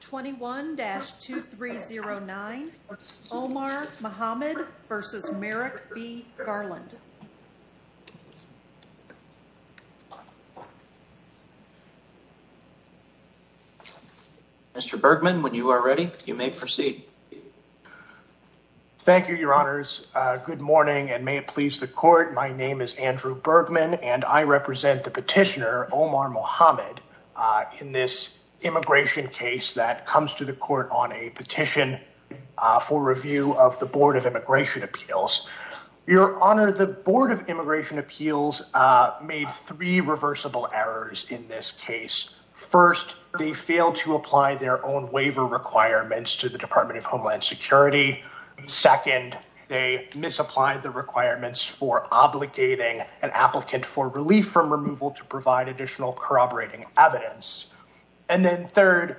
21-2309 Omar Mohamed v. Merrick B. Garland. Mr. Bergman, when you are ready, you may proceed. Thank you, your honors. Good morning and may it please the court. My name is Andrew Bergman and I represent the petitioner Omar Mohamed in this immigration case that comes to the court on a petition for review of the Board of Immigration Appeals. Your honor, the Board of Immigration Appeals made three reversible errors in this case. First, they failed to apply their own waiver requirements to the Department of Homeland Security. Second, they misapplied the requirements for obligating an corroborating evidence. And then third,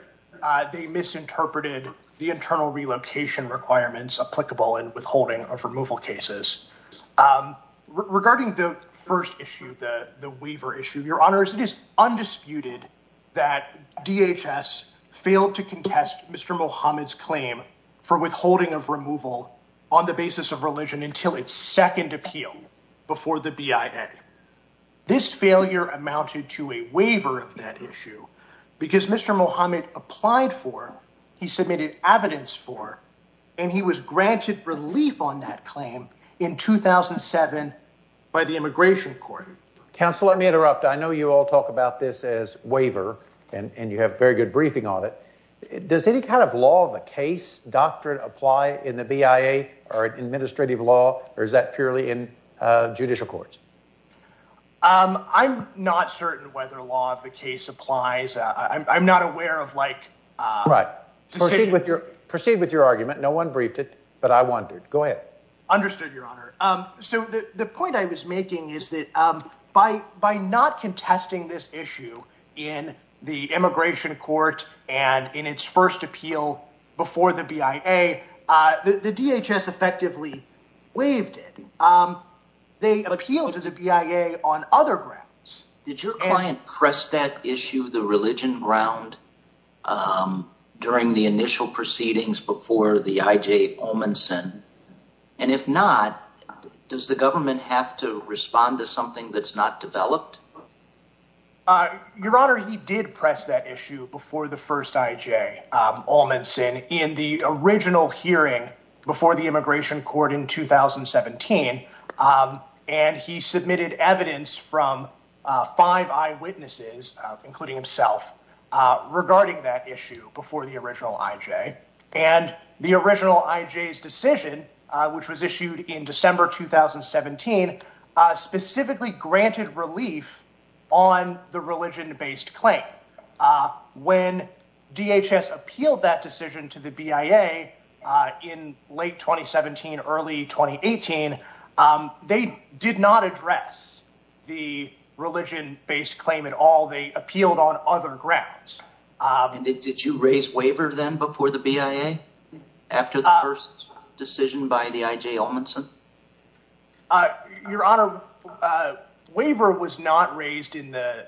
they misinterpreted the internal relocation requirements applicable in withholding of removal cases. Regarding the first issue, the waiver issue, your honors, it is undisputed that DHS failed to contest Mr. Mohamed's claim for withholding of removal on the basis of religion until its second appeal before the BIA. This failure amounted to a waiver of that issue because Mr. Mohamed applied for, he submitted evidence for, and he was granted relief on that claim in 2007 by the immigration court. Counselor, let me interrupt. I know you all talk about this as waiver and you have very good briefing on it. Does any kind of law of a case doctrine apply in the BIA or administrative law or is that purely in judicial courts? I'm not certain whether law of the case applies. I'm not aware of like... Right. Proceed with your argument. No one briefed it, but I wondered. Go ahead. Understood, your honor. So the point I was making is that by not contesting this issue in the immigration court and in its first appeal before the BIA, the DHS effectively waived it. They appealed as a BIA on other grounds. Did your client press that issue, the religion ground, during the initial proceedings before the IJ Olmensen? And if not, does the government have to respond to something that's not developed? Your honor, he did press that issue before the first IJ Olmensen in the original hearing before the immigration court in 2017. And he submitted evidence from five eyewitnesses, including himself, regarding that issue before the original IJ. And the original IJ's decision, which was issued in December 2017, specifically granted relief on the religion-based claim. When DHS appealed that decision to the BIA in late 2017, early 2018, they did not address the religion-based claim at all. They appealed on other grounds. And did you raise waiver then before the BIA? After the first decision by the IJ Olmensen? Your honor, waiver was not raised in the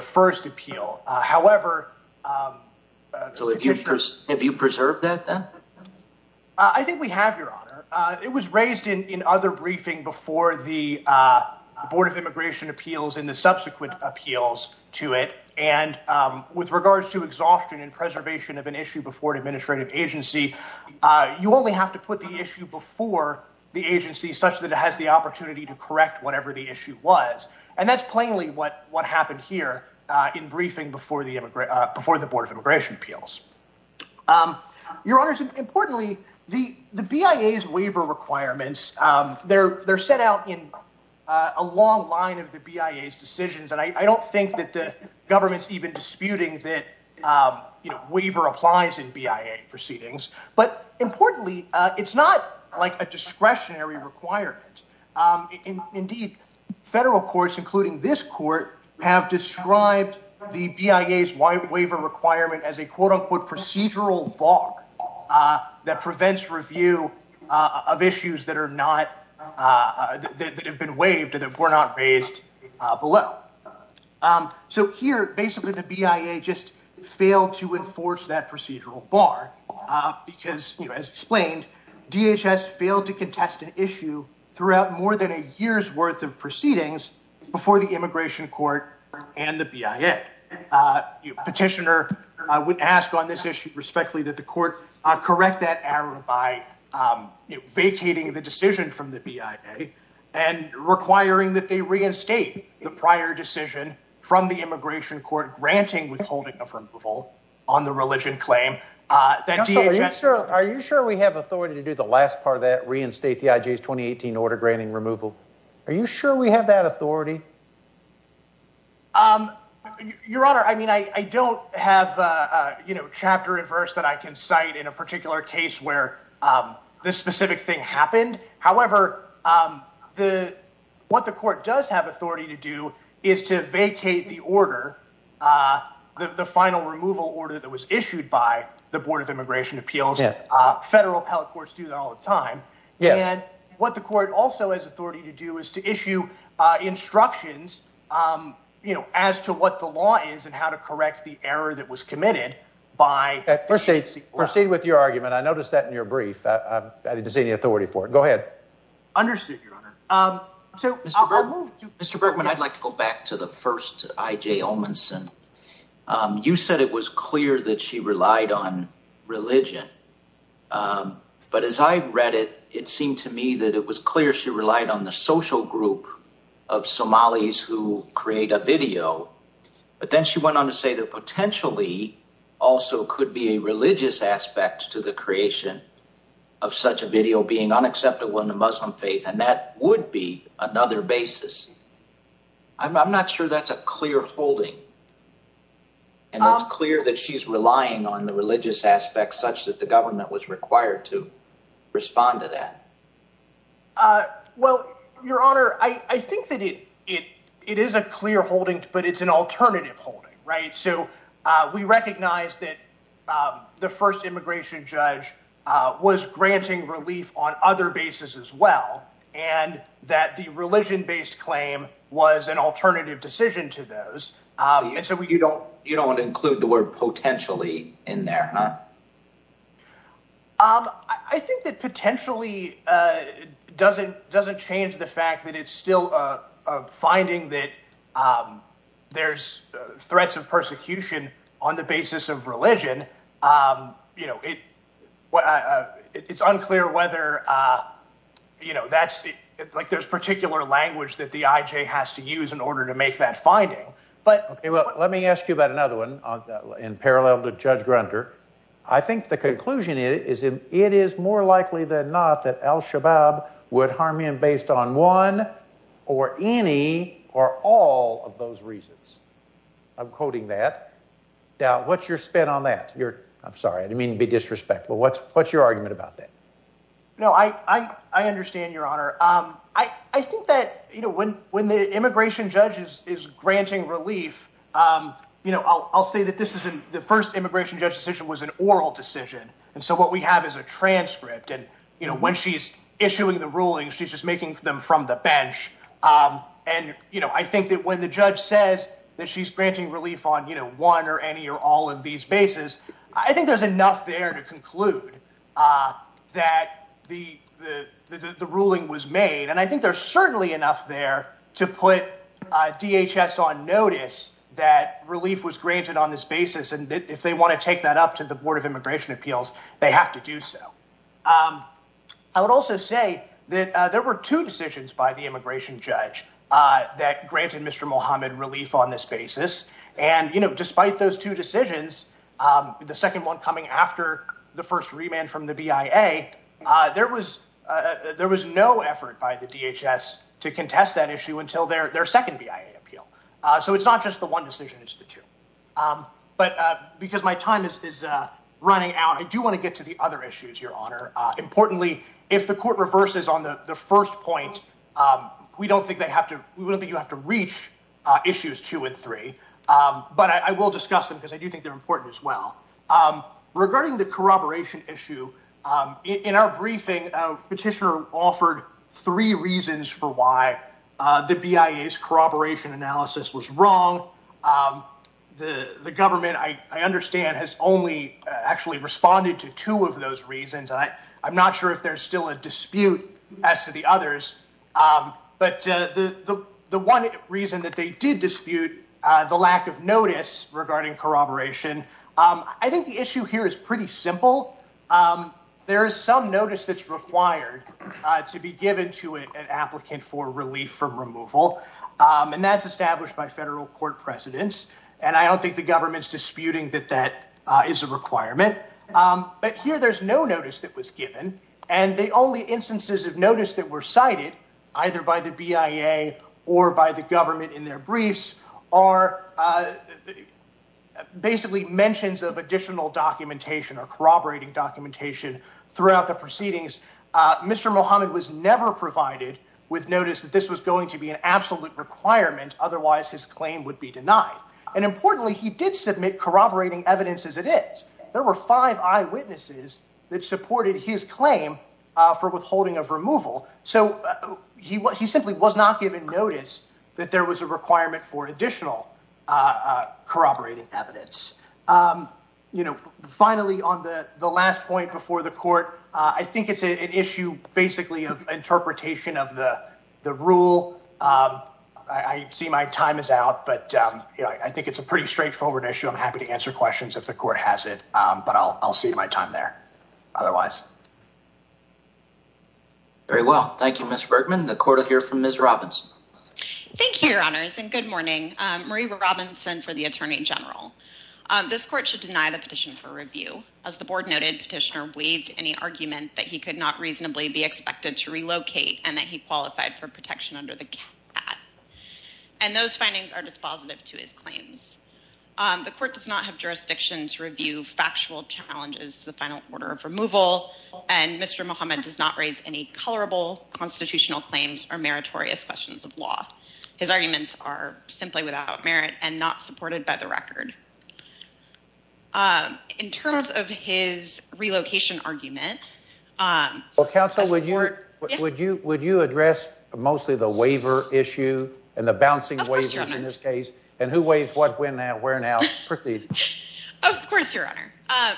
first appeal. However... So have you preserved that then? I think we have, your honor. It was raised in other briefing before the Board of Immigration Appeals in the subsequent appeals to it. And with regards to exhaustion and preservation of an issue before an administrative agency, you only have to put the issue before the agency such that it has the opportunity to correct whatever the issue was. And that's plainly what happened here in briefing before the Board of Immigration Appeals. Your honors, importantly, the BIA's waiver requirements, they're set out in a long line of the BIA's decisions. And I don't think that the government's even disputing that waiver applies in BIA proceedings. But importantly, it's not like a discretionary requirement. Indeed, federal courts, including this court, have described the BIA's waiver requirement as a quote-unquote procedural bar that prevents review of issues that have been waived that were not raised below. So here, basically, the BIA just failed to enforce that procedural bar because, as explained, DHS failed to contest an issue throughout more than a year's worth of proceedings before the Immigration Court and the BIA. Petitioner, I would ask on this issue respectfully that the court correct that error by vacating the decision from the BIA and requiring that they reinstate the prior decision from the Immigration Court granting withholding of removal on the religion claim. Are you sure we have authority to do the last part of that, reinstate the IJ's 2018 order granting removal? Are you sure we have that authority? Your Honor, I mean, I don't have, you know, chapter and verse that I can cite in a particular case where this specific thing happened. However, what the court does have authority to do is to vacate the order, the final removal order that was issued by the Board of Immigration Appeals. Federal appellate courts do that all the time. And what the instructions, you know, as to what the law is and how to correct the error that was committed by... Proceed with your argument. I noticed that in your brief. I didn't see any authority for it. Go ahead. Understood, Your Honor. Mr. Bergman, I'd like to go back to the first IJ Olmanson. You said it was clear that she relied on religion. But as I read it, it seemed to me that it was clear she relied on the social group of Somalis who create a video. But then she went on to say that potentially also could be a religious aspect to the creation of such a video being unacceptable in the Muslim faith. And that would be another basis. I'm not sure that's a clear holding. And it's clear that she's relying on the religious aspects such that the Well, Your Honor, I think that it is a clear holding, but it's an alternative holding, right? So we recognize that the first immigration judge was granting relief on other basis as well, and that the religion-based claim was an alternative decision to those. And so you don't want to include the word doesn't change the fact that it's still a finding that there's threats of persecution on the basis of religion. You know, it's unclear whether, you know, that's like there's particular language that the IJ has to use in order to make that finding. But, okay, well, let me ask you about another one in parallel to Judge Grunter. I think the conclusion is in it is more likely than not that Al-Shabaab would harm him based on one or any or all of those reasons. I'm quoting that. Now, what's your spin on that? I'm sorry. I didn't mean to be disrespectful. What's your argument about that? No, I understand, Your Honor. I think that, you know, when the immigration judge is granting relief, you know, I'll say that this isn't the first immigration judge decision was an oral decision. And so what we have is a transcript. And, you know, when she's issuing the ruling, she's just making them from the bench. And, you know, I think that when the judge says that she's granting relief on, you know, one or any or all of these bases, I think there's enough there to conclude that the ruling was made. And I think there's certainly enough there to put DHS on notice that relief was granted on this basis. And if they want to take that up to the Board of Immigration Appeals, they have to do so. I would also say that there were two decisions by the immigration judge that granted Mr. Mohammed relief on this basis. And, you know, despite those two decisions, the second one coming after the first remand from the BIA, there was no effort by the DHS to contest that issue until their second BIA appeal. So it's not just the one decision, it's the two. But because my time is running out, I do want to get to the other issues, Your Honor. Importantly, if the court reverses on the first point, we don't think they have to, we wouldn't think you have to reach issues two and three. But I will discuss them because I do think they're important as well. Regarding the corroboration issue, in our briefing, Petitioner offered three reasons for why the BIA's corroboration analysis was wrong. The government, I understand, has only actually responded to two of those reasons. I'm not sure if there's still a dispute as to the others, but the one reason that they did dispute the lack of notice regarding corroboration, I think the issue here is pretty simple. There is some notice that's required to be given to an applicant for relief from removal, and that's established by federal court precedents. And I don't think the government's disputing that that is a requirement. But here there's no notice that was given, and the only instances of notice that were cited, either by the BIA or by the government in their briefs, are basically mentions of additional documentation or corroborating documentation throughout the proceedings. Mr. Muhammad was never provided with notice that this was going to be an absolute requirement, otherwise his claim would be denied. And importantly, he did submit corroborating evidence as it is. There were five eyewitnesses that supported his claim for withholding of removal, so he simply was not given notice that there was a requirement for additional corroborating evidence. Finally, on the last point before the court, I think it's an interpretation of the rule. I see my time is out, but I think it's a pretty straightforward issue. I'm happy to answer questions if the court has it, but I'll save my time there otherwise. Very well. Thank you, Mr. Bergman. The court will hear from Ms. Robinson. Thank you, your honors, and good morning. Marie Robinson for the Attorney General. This court should deny the petition for review. As the board noted, petitioner waived any argument that he could not reasonably be expected to relocate and that he qualified for protection under the cap. And those findings are dispositive to his claims. The court does not have jurisdiction to review factual challenges, the final order of removal, and Mr. Muhammad does not raise any colorable constitutional claims or meritorious questions of law. His arguments are simply without merit and not supported by the record. In terms of his relocation argument... Counsel, would you address mostly the waiver issue and the bouncing waivers in this case? And who waived what, when, and where now? Proceed. Of course, your honor.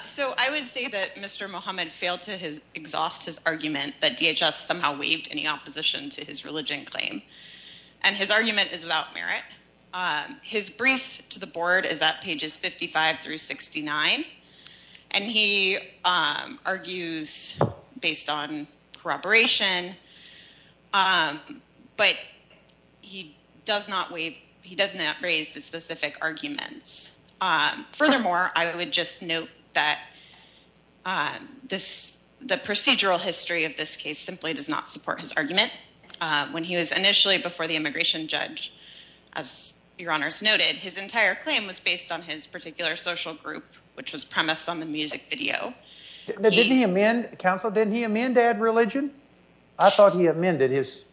So I would say that Mr. Muhammad failed to exhaust his argument that DHS somehow waived any opposition to his religion claim. And his argument is without merit. His brief to the board is at pages 55 through 69. And he argues based on corroboration, but he does not waive, he does not raise the specific arguments. Furthermore, I would just note that this, the procedural history of this case simply does not support his argument. When he was initially before the immigration judge, as your honors noted, his entire claim was based on his particular social group, which was premised on the music video. Didn't he amend, Counsel, didn't he amend to add religion? I thought he amended his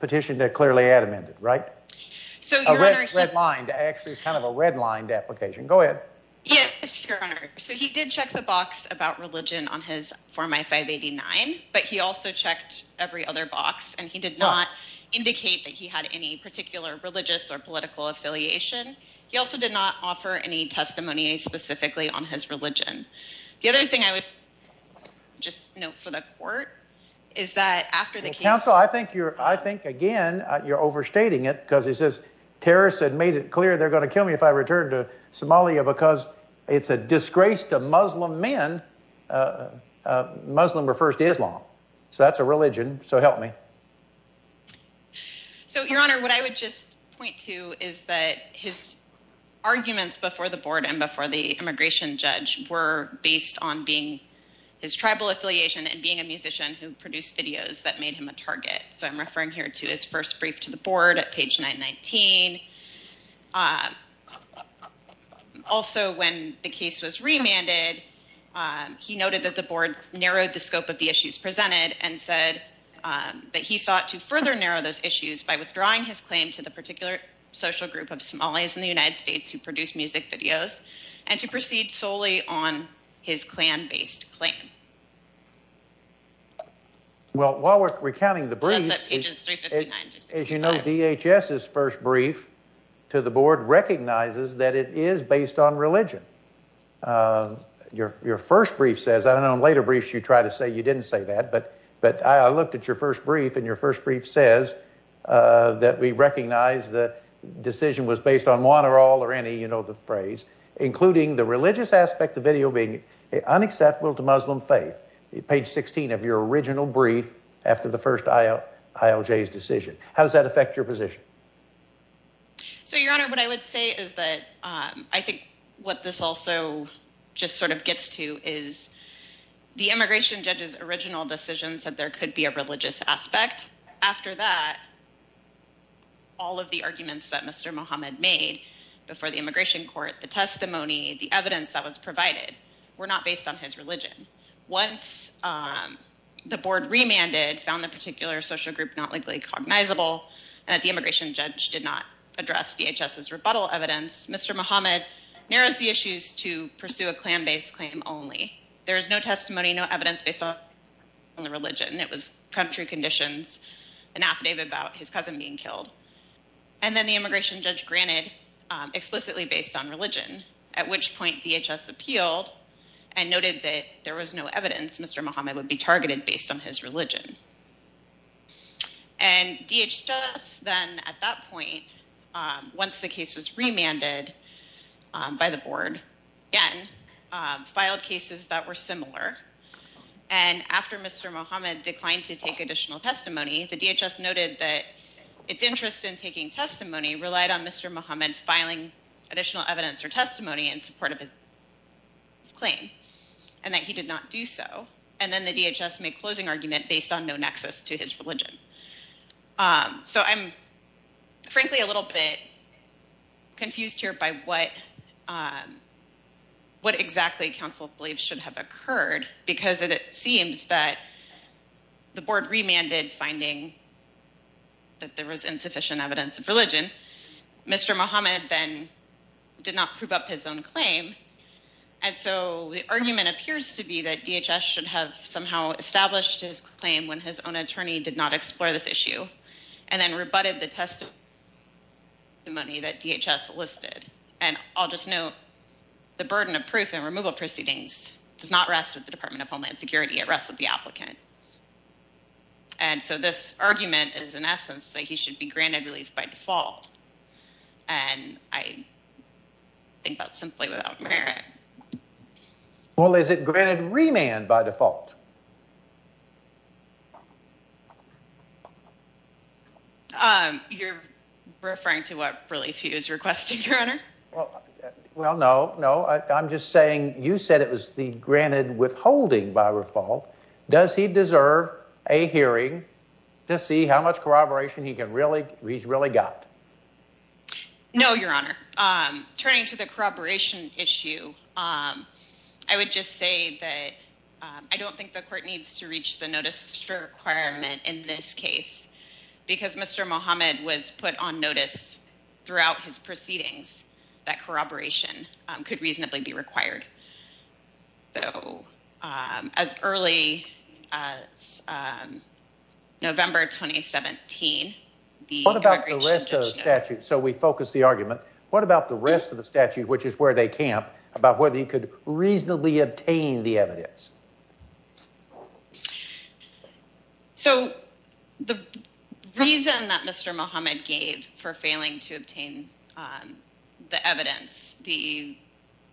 petition to clearly add amended, right? A redlined, actually kind of a redlined application. Go ahead. Yes, your honor. So he did check the box about religion on his form I-589, but he also checked every other box and he did not indicate that he had any particular religious or political affiliation. He also did not offer any testimony specifically on his religion. The other thing I would just note for the court is that after the counsel, I think you're, I think again, you're overstating it because he says terrorists had made it clear. They're going to kill me if I return to Somalia because it's a disgrace to Muslim men. Muslim refers to Islam. So that's a religion. So help me. So your honor, what I would just point to is that his arguments before the board and before the immigration judge were based on being his tribal affiliation and being a musician who produced videos that made him a target. So I'm referring here to his first brief to the board at page 919. Also when the case was remanded, he noted that the board narrowed the scope of the issues presented and said that he sought to further narrow those issues by withdrawing his claim to the particular social group of Somalis in the United States who produce music videos and to proceed solely on his clan based claim. Well, while we're recounting the briefs, as you know, DHS's first brief to the board recognizes that it is based on religion. Your first brief says, I don't know in later briefs you try to say you didn't say that, but I looked at your first brief and your first brief says that we recognize the decision was based on one or all or any, you know the phrase, including the religious aspect of video being unacceptable to Muslim faith. Page 16 of your original brief after the first ILJ's decision. How does that affect your position? So your honor, what I would say is that I think what this also just sort of gets to is the immigration judge's original decision said there could be a religious aspect. After that, all of the arguments that Mr. Muhammad made before the immigration court, the testimony, the evidence that was provided were not based on his religion. Once the board remanded, found the particular social group not legally cognizable and that the immigration judge did not address DHS's rebuttal evidence, Mr. Muhammad narrows the issues to pursue a clan based claim only. There is no testimony, no evidence based on the religion. It was country conditions, an affidavit about his cousin being killed. And then the immigration judge granted explicitly based on religion, at which point DHS appealed and noted that there was no evidence Mr. Muhammad would be targeted based on his religion. And DHS then at that point, once the case was remanded by the board again, filed cases that were similar. And after Mr. Muhammad declined to take additional testimony, the DHS noted that its interest in taking testimony relied on Mr. Muhammad filing additional evidence or testimony in support of his claim and that he did not do so. And then the DHS made closing argument based on no nexus to his religion. So I'm frankly a little bit confused here by what exactly council believes should have occurred because it seems that the board remanded finding that there was insufficient evidence of religion. Mr. Muhammad then did not prove up his own claim. And so the argument appears to be that DHS should have somehow established his claim when his own attorney did not explore this issue and then rebutted the testimony that DHS listed. And I'll proceedings does not rest with the Department of Homeland Security at rest with the applicant. And so this argument is in essence that he should be granted relief by default. And I think that's simply without merit. Well, is it granted remand by default? You're referring to what relief he was requesting your honor? Well, no, no, I'm just saying you said it was the granted withholding by default. Does he deserve a hearing to see how much corroboration he can really reach really got? No, your honor. Turning to the corroboration issue. I would just say that I don't think the court needs to reach the notice for requirement in this case because Mr. Muhammad was put on notice throughout his proceedings that corroboration could reasonably be required. So as early as November 2017, the what about the rest of the statute? So we focus the argument. What about the rest of the statute which is where they camp about whether you could reasonably obtain the evidence? So the reason that Mr. Muhammad gave for failing to obtain the evidence the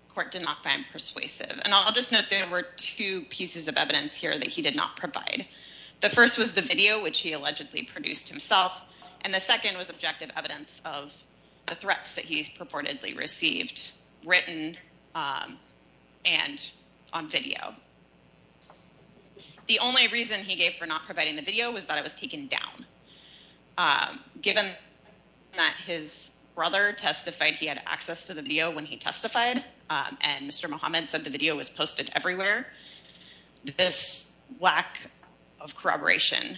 court did not find persuasive and I'll just note there were two pieces of evidence here that he did not provide. The first was the video which he allegedly produced himself and the second was objective evidence of the threats that he's purportedly received written and on video. The only reason he gave for not providing the video was that it was taken down. Given that his brother testified he had access to the video when he testified and Mr. Muhammad said the video was posted everywhere. This lack of corroboration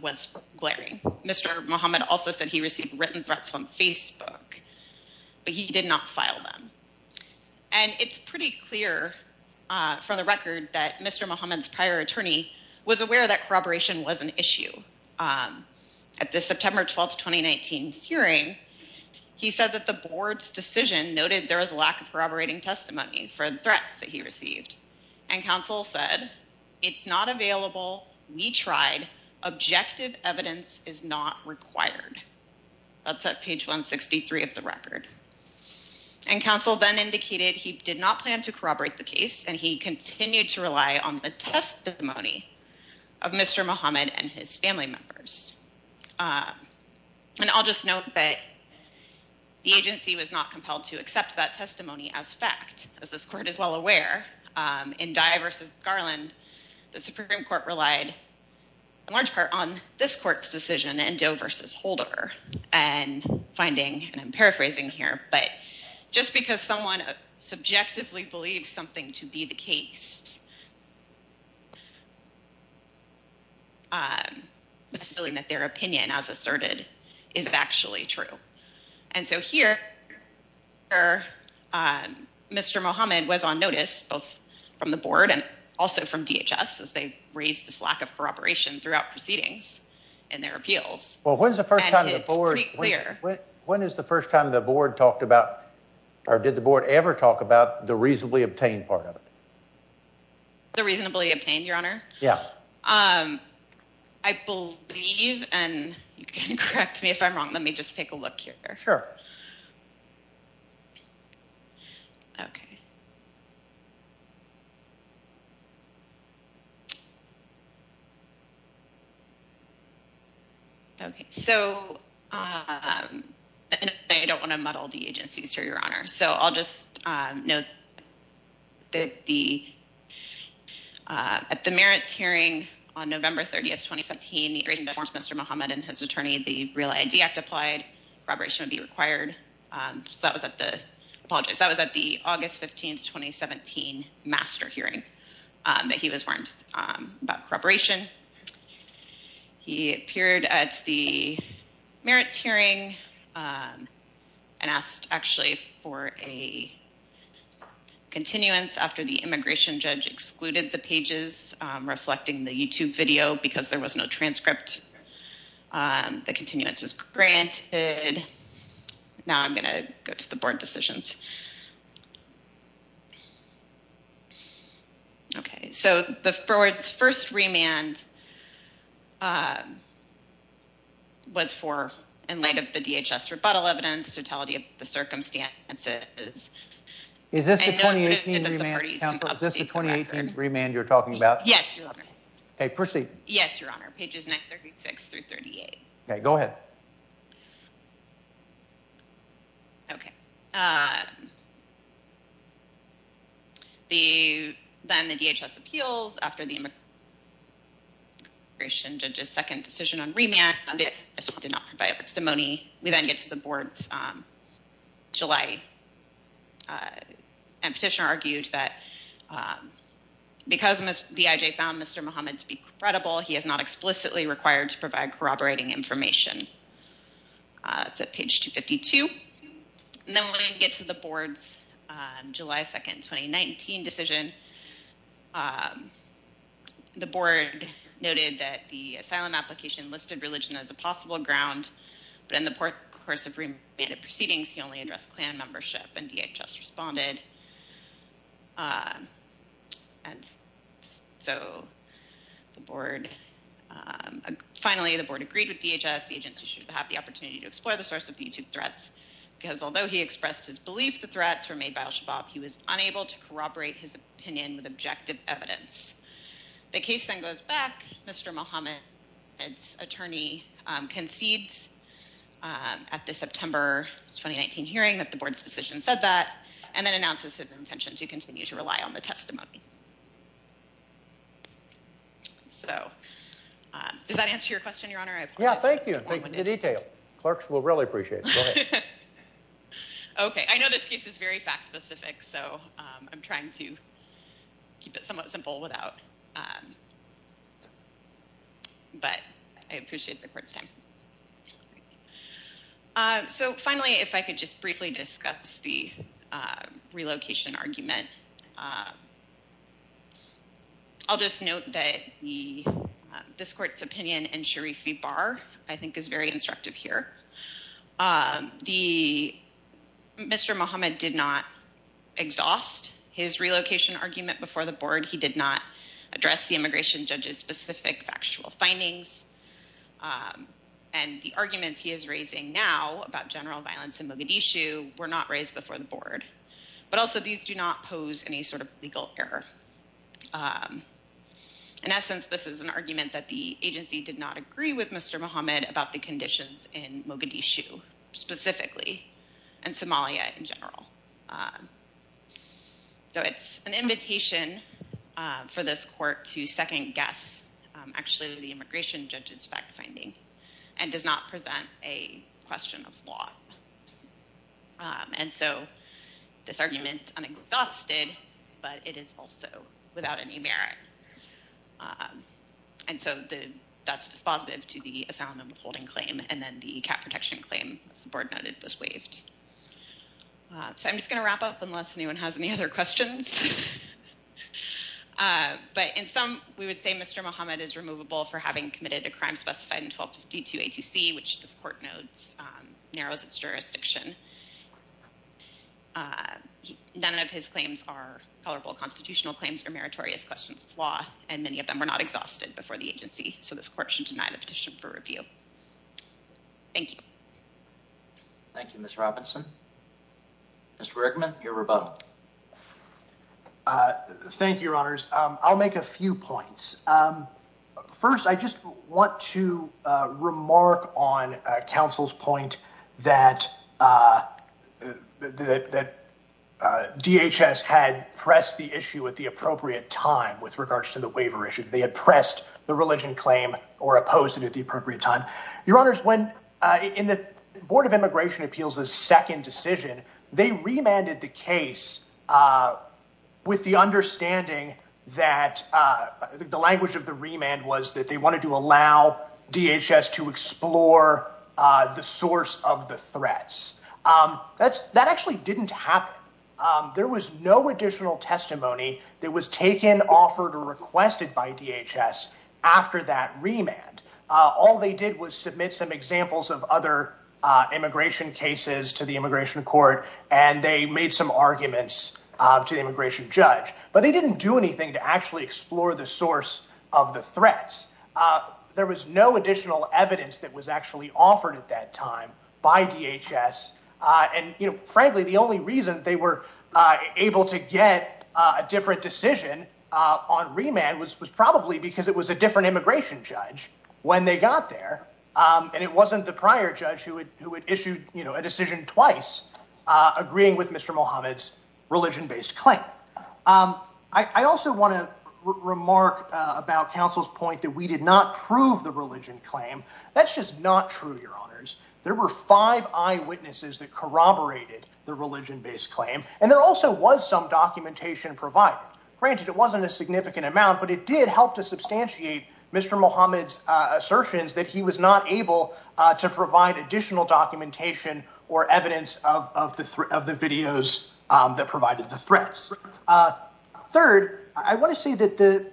was glaring. Mr. Muhammad also said he received written threats on Facebook, but he did not file them and it's pretty clear from the record that Mr. Muhammad's prior attorney was aware that corroboration was an issue. At the September 12th 2019 hearing he said that the board's decision noted there was a lack of corroborating testimony for the threats that he received and counsel said it's not available. We tried. Objective evidence is not required. That's at page 163 of the record and counsel then indicated he did not plan to corroborate the case and he continued to rely on the testimony of Mr. Muhammad and his family members. And I'll just note that the agency was not compelled to accept that testimony as fact as this court is well aware in Dye v. Garland the Supreme Court relied in large part on this court's decision in Doe v. Holder and finding and I'm paraphrasing here, but just because someone subjectively believes something to be the case. It's silly that their opinion as asserted is actually true. And so here Mr. Muhammad was on notice both from the board and also from DHS as they raised this lack of corroboration throughout proceedings and their appeals. Well, when's the first time the board, when is the first time the board talked about or did the board ever talk about the reasonably obtained part of it? The reasonably obtained your honor. Yeah, I believe and you can correct me if I'm wrong. Let me just take a look here. Okay, so I don't want to muddle the agencies here your honor. So I'll just know that the at the merits hearing on November 30th 2017 the agreement forms Mr. Muhammad and his attorney the real ID act applied corroboration would be required. So that was at the apologize. That was at the August 15th 2017 master hearing that he was warned about corroboration. He appeared at the merits hearing and asked actually for a continuance after the immigration judge excluded the pages reflecting the YouTube video because there was no transcript. The continuance is granted. Now I'm going to go to the board decisions. Okay, so the forward first remand was for in light of the DHS rebuttal evidence totality of the circumstances. Is this the 2018 remand council? Is this the 2018 remand you're talking about? Yes, your honor. Okay, proceed. Yes, your honor. Okay. The then the DHS appeals after the immigration judge's second decision on remand did not provide a testimony. We then get to the board's July and petitioner argued that because the IJ found Mr. Muhammad to be credible. He is not explicitly required to provide corroborating information. It's at page 252. And then when I get to the board's July 2nd 2019 decision, the board noted that the asylum application listed religion as a possible ground but in the course of remanded proceedings, he only addressed clan membership and DHS responded. And so the board finally the DHS the agency should have the opportunity to explore the source of the YouTube threats because although he expressed his belief, the threats were made by al-shabaab. He was unable to corroborate his opinion with objective evidence. The case then goes back. Mr. Muhammad. It's attorney concedes at the September 2019 hearing that the board's decision said that and then announces his intention to continue to rely on the testimony. So does that answer your question your honor? Yeah, thank you detail clerks will really appreciate it. Okay. I know this case is very fact-specific. So I'm trying to keep it somewhat simple without but I appreciate the court's time. So finally, if I could just briefly discuss the relocation argument, I'll just note that the this court's opinion and Sharifi bar. I think is very instructive here. The Mr. Muhammad did not exhaust his relocation argument before the board. He did not address the immigration judges specific factual findings and the arguments he is raising now about general violence in Mogadishu were not raised before the board, but also these do not pose any sort of legal error. In essence, this is an argument that the agency did not agree with Mr. Muhammad about the conditions in Mogadishu specifically and Somalia in general. So it's an invitation for this court to second-guess actually the immigration judges fact-finding and does not present a question of law. And so this argument is unexhausted, but it is also without any merit. And so that's dispositive to the asylum upholding claim and then the cat protection claim as the board noted was waived. So I'm just going to wrap up unless anyone has any other questions. But in some we would say Mr. Muhammad is removable for having committed a crime specified in 1252 A2C, which this court narrows its jurisdiction. None of his claims are colorable constitutional claims or meritorious questions of law and many of them are not exhausted before the agency. So this court should deny the petition for review. Thank you. Thank you, Miss Robinson. Mr. Rickman, your rebuttal. Thank you, Your Honors. I'll make a few points. First, I just want to remark on counsel's point that DHS had pressed the issue at the appropriate time with regards to the waiver issue. They had pressed the religion claim or opposed it at the appropriate time. Your Honors, when in the Board of Immigration Appeals' second decision, they remanded the case with the understanding that the language of the remand was that they wanted to allow DHS to explore the source of the threats. That actually didn't happen. There was no additional testimony that was taken, offered, or requested by DHS after that remand. All they did was submit some examples of other immigration cases to the immigration court and they made some arguments to the court, but they didn't do anything to actually explore the source of the threats. There was no additional evidence that was actually offered at that time by DHS. And frankly, the only reason they were able to get a different decision on remand was probably because it was a different immigration judge when they got there. And it wasn't the prior judge who had issued a decision twice agreeing with Mr. Muhammad's assertions. I also want to remark about Council's point that we did not prove the religion claim. That's just not true, Your Honors. There were five eyewitnesses that corroborated the religion based claim and there also was some documentation provided. Granted, it wasn't a significant amount, but it did help to substantiate Mr. Muhammad's assertions that he was not able to provide additional documentation or evidence of the videos that provided the Third, I want to say that the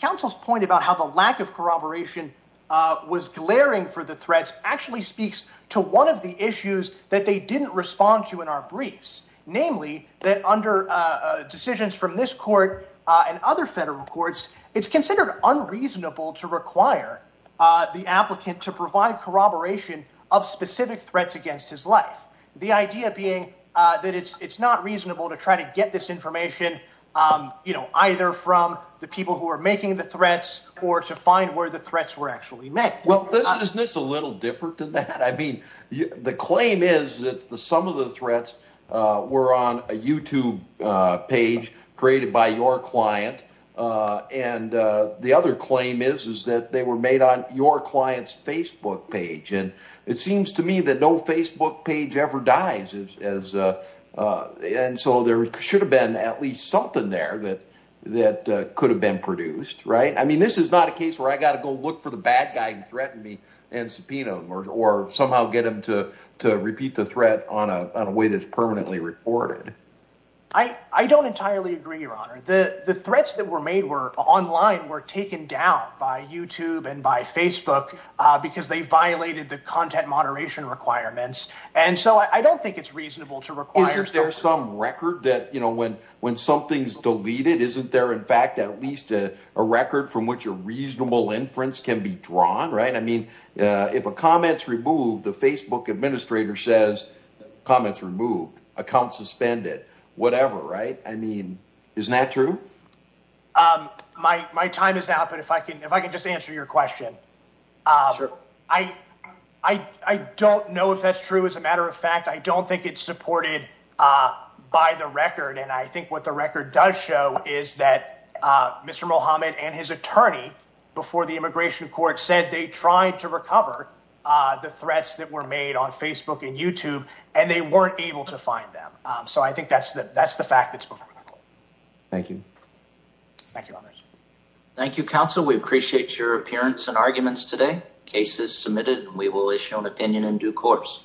Council's point about how the lack of corroboration was glaring for the threats actually speaks to one of the issues that they didn't respond to in our briefs, namely that under decisions from this court and other federal courts, it's considered unreasonable to require the applicant to provide corroboration of specific threats against his life. The idea being that it's not reasonable to try to get this information, you know, either from the people who are making the threats or to find where the threats were actually met. Well, this is this a little different than that. I mean, the claim is that some of the threats were on a YouTube page created by your client and the other claim is is that they were made on your client's Facebook page and it seems to me that no Facebook page ever dies as and so there should have been at least something there that that could have been produced, right? I mean, this is not a case where I got to go look for the bad guy and threaten me and subpoena them or somehow get him to repeat the threat on a way that's permanently reported. I don't entirely agree, your honor. The threats that were made were online, were taken down by YouTube and by Facebook because they violated the content moderation requirements. And so I don't think it's reasonable to require. Is there some record that you know, when when something's deleted isn't there? In fact, at least a record from which a reasonable inference can be drawn, right? I mean, if a comment's removed, the Facebook administrator says comments removed account suspended, whatever, right? I mean, isn't that true? My time is out. But if I can if I can just answer your question, I don't know if that's true. As a matter of fact, I don't think it's supported by the record. And I think what the record does show is that Mr. Mohammed and his attorney before the immigration court said they tried to recover the threats that were made on Facebook and YouTube and they weren't able to find them. So I think that's the that's the fact that's before. Thank you. Thank you. Thank you, counsel. We appreciate your appearance and arguments today. Case is submitted. We will issue an opinion in due course.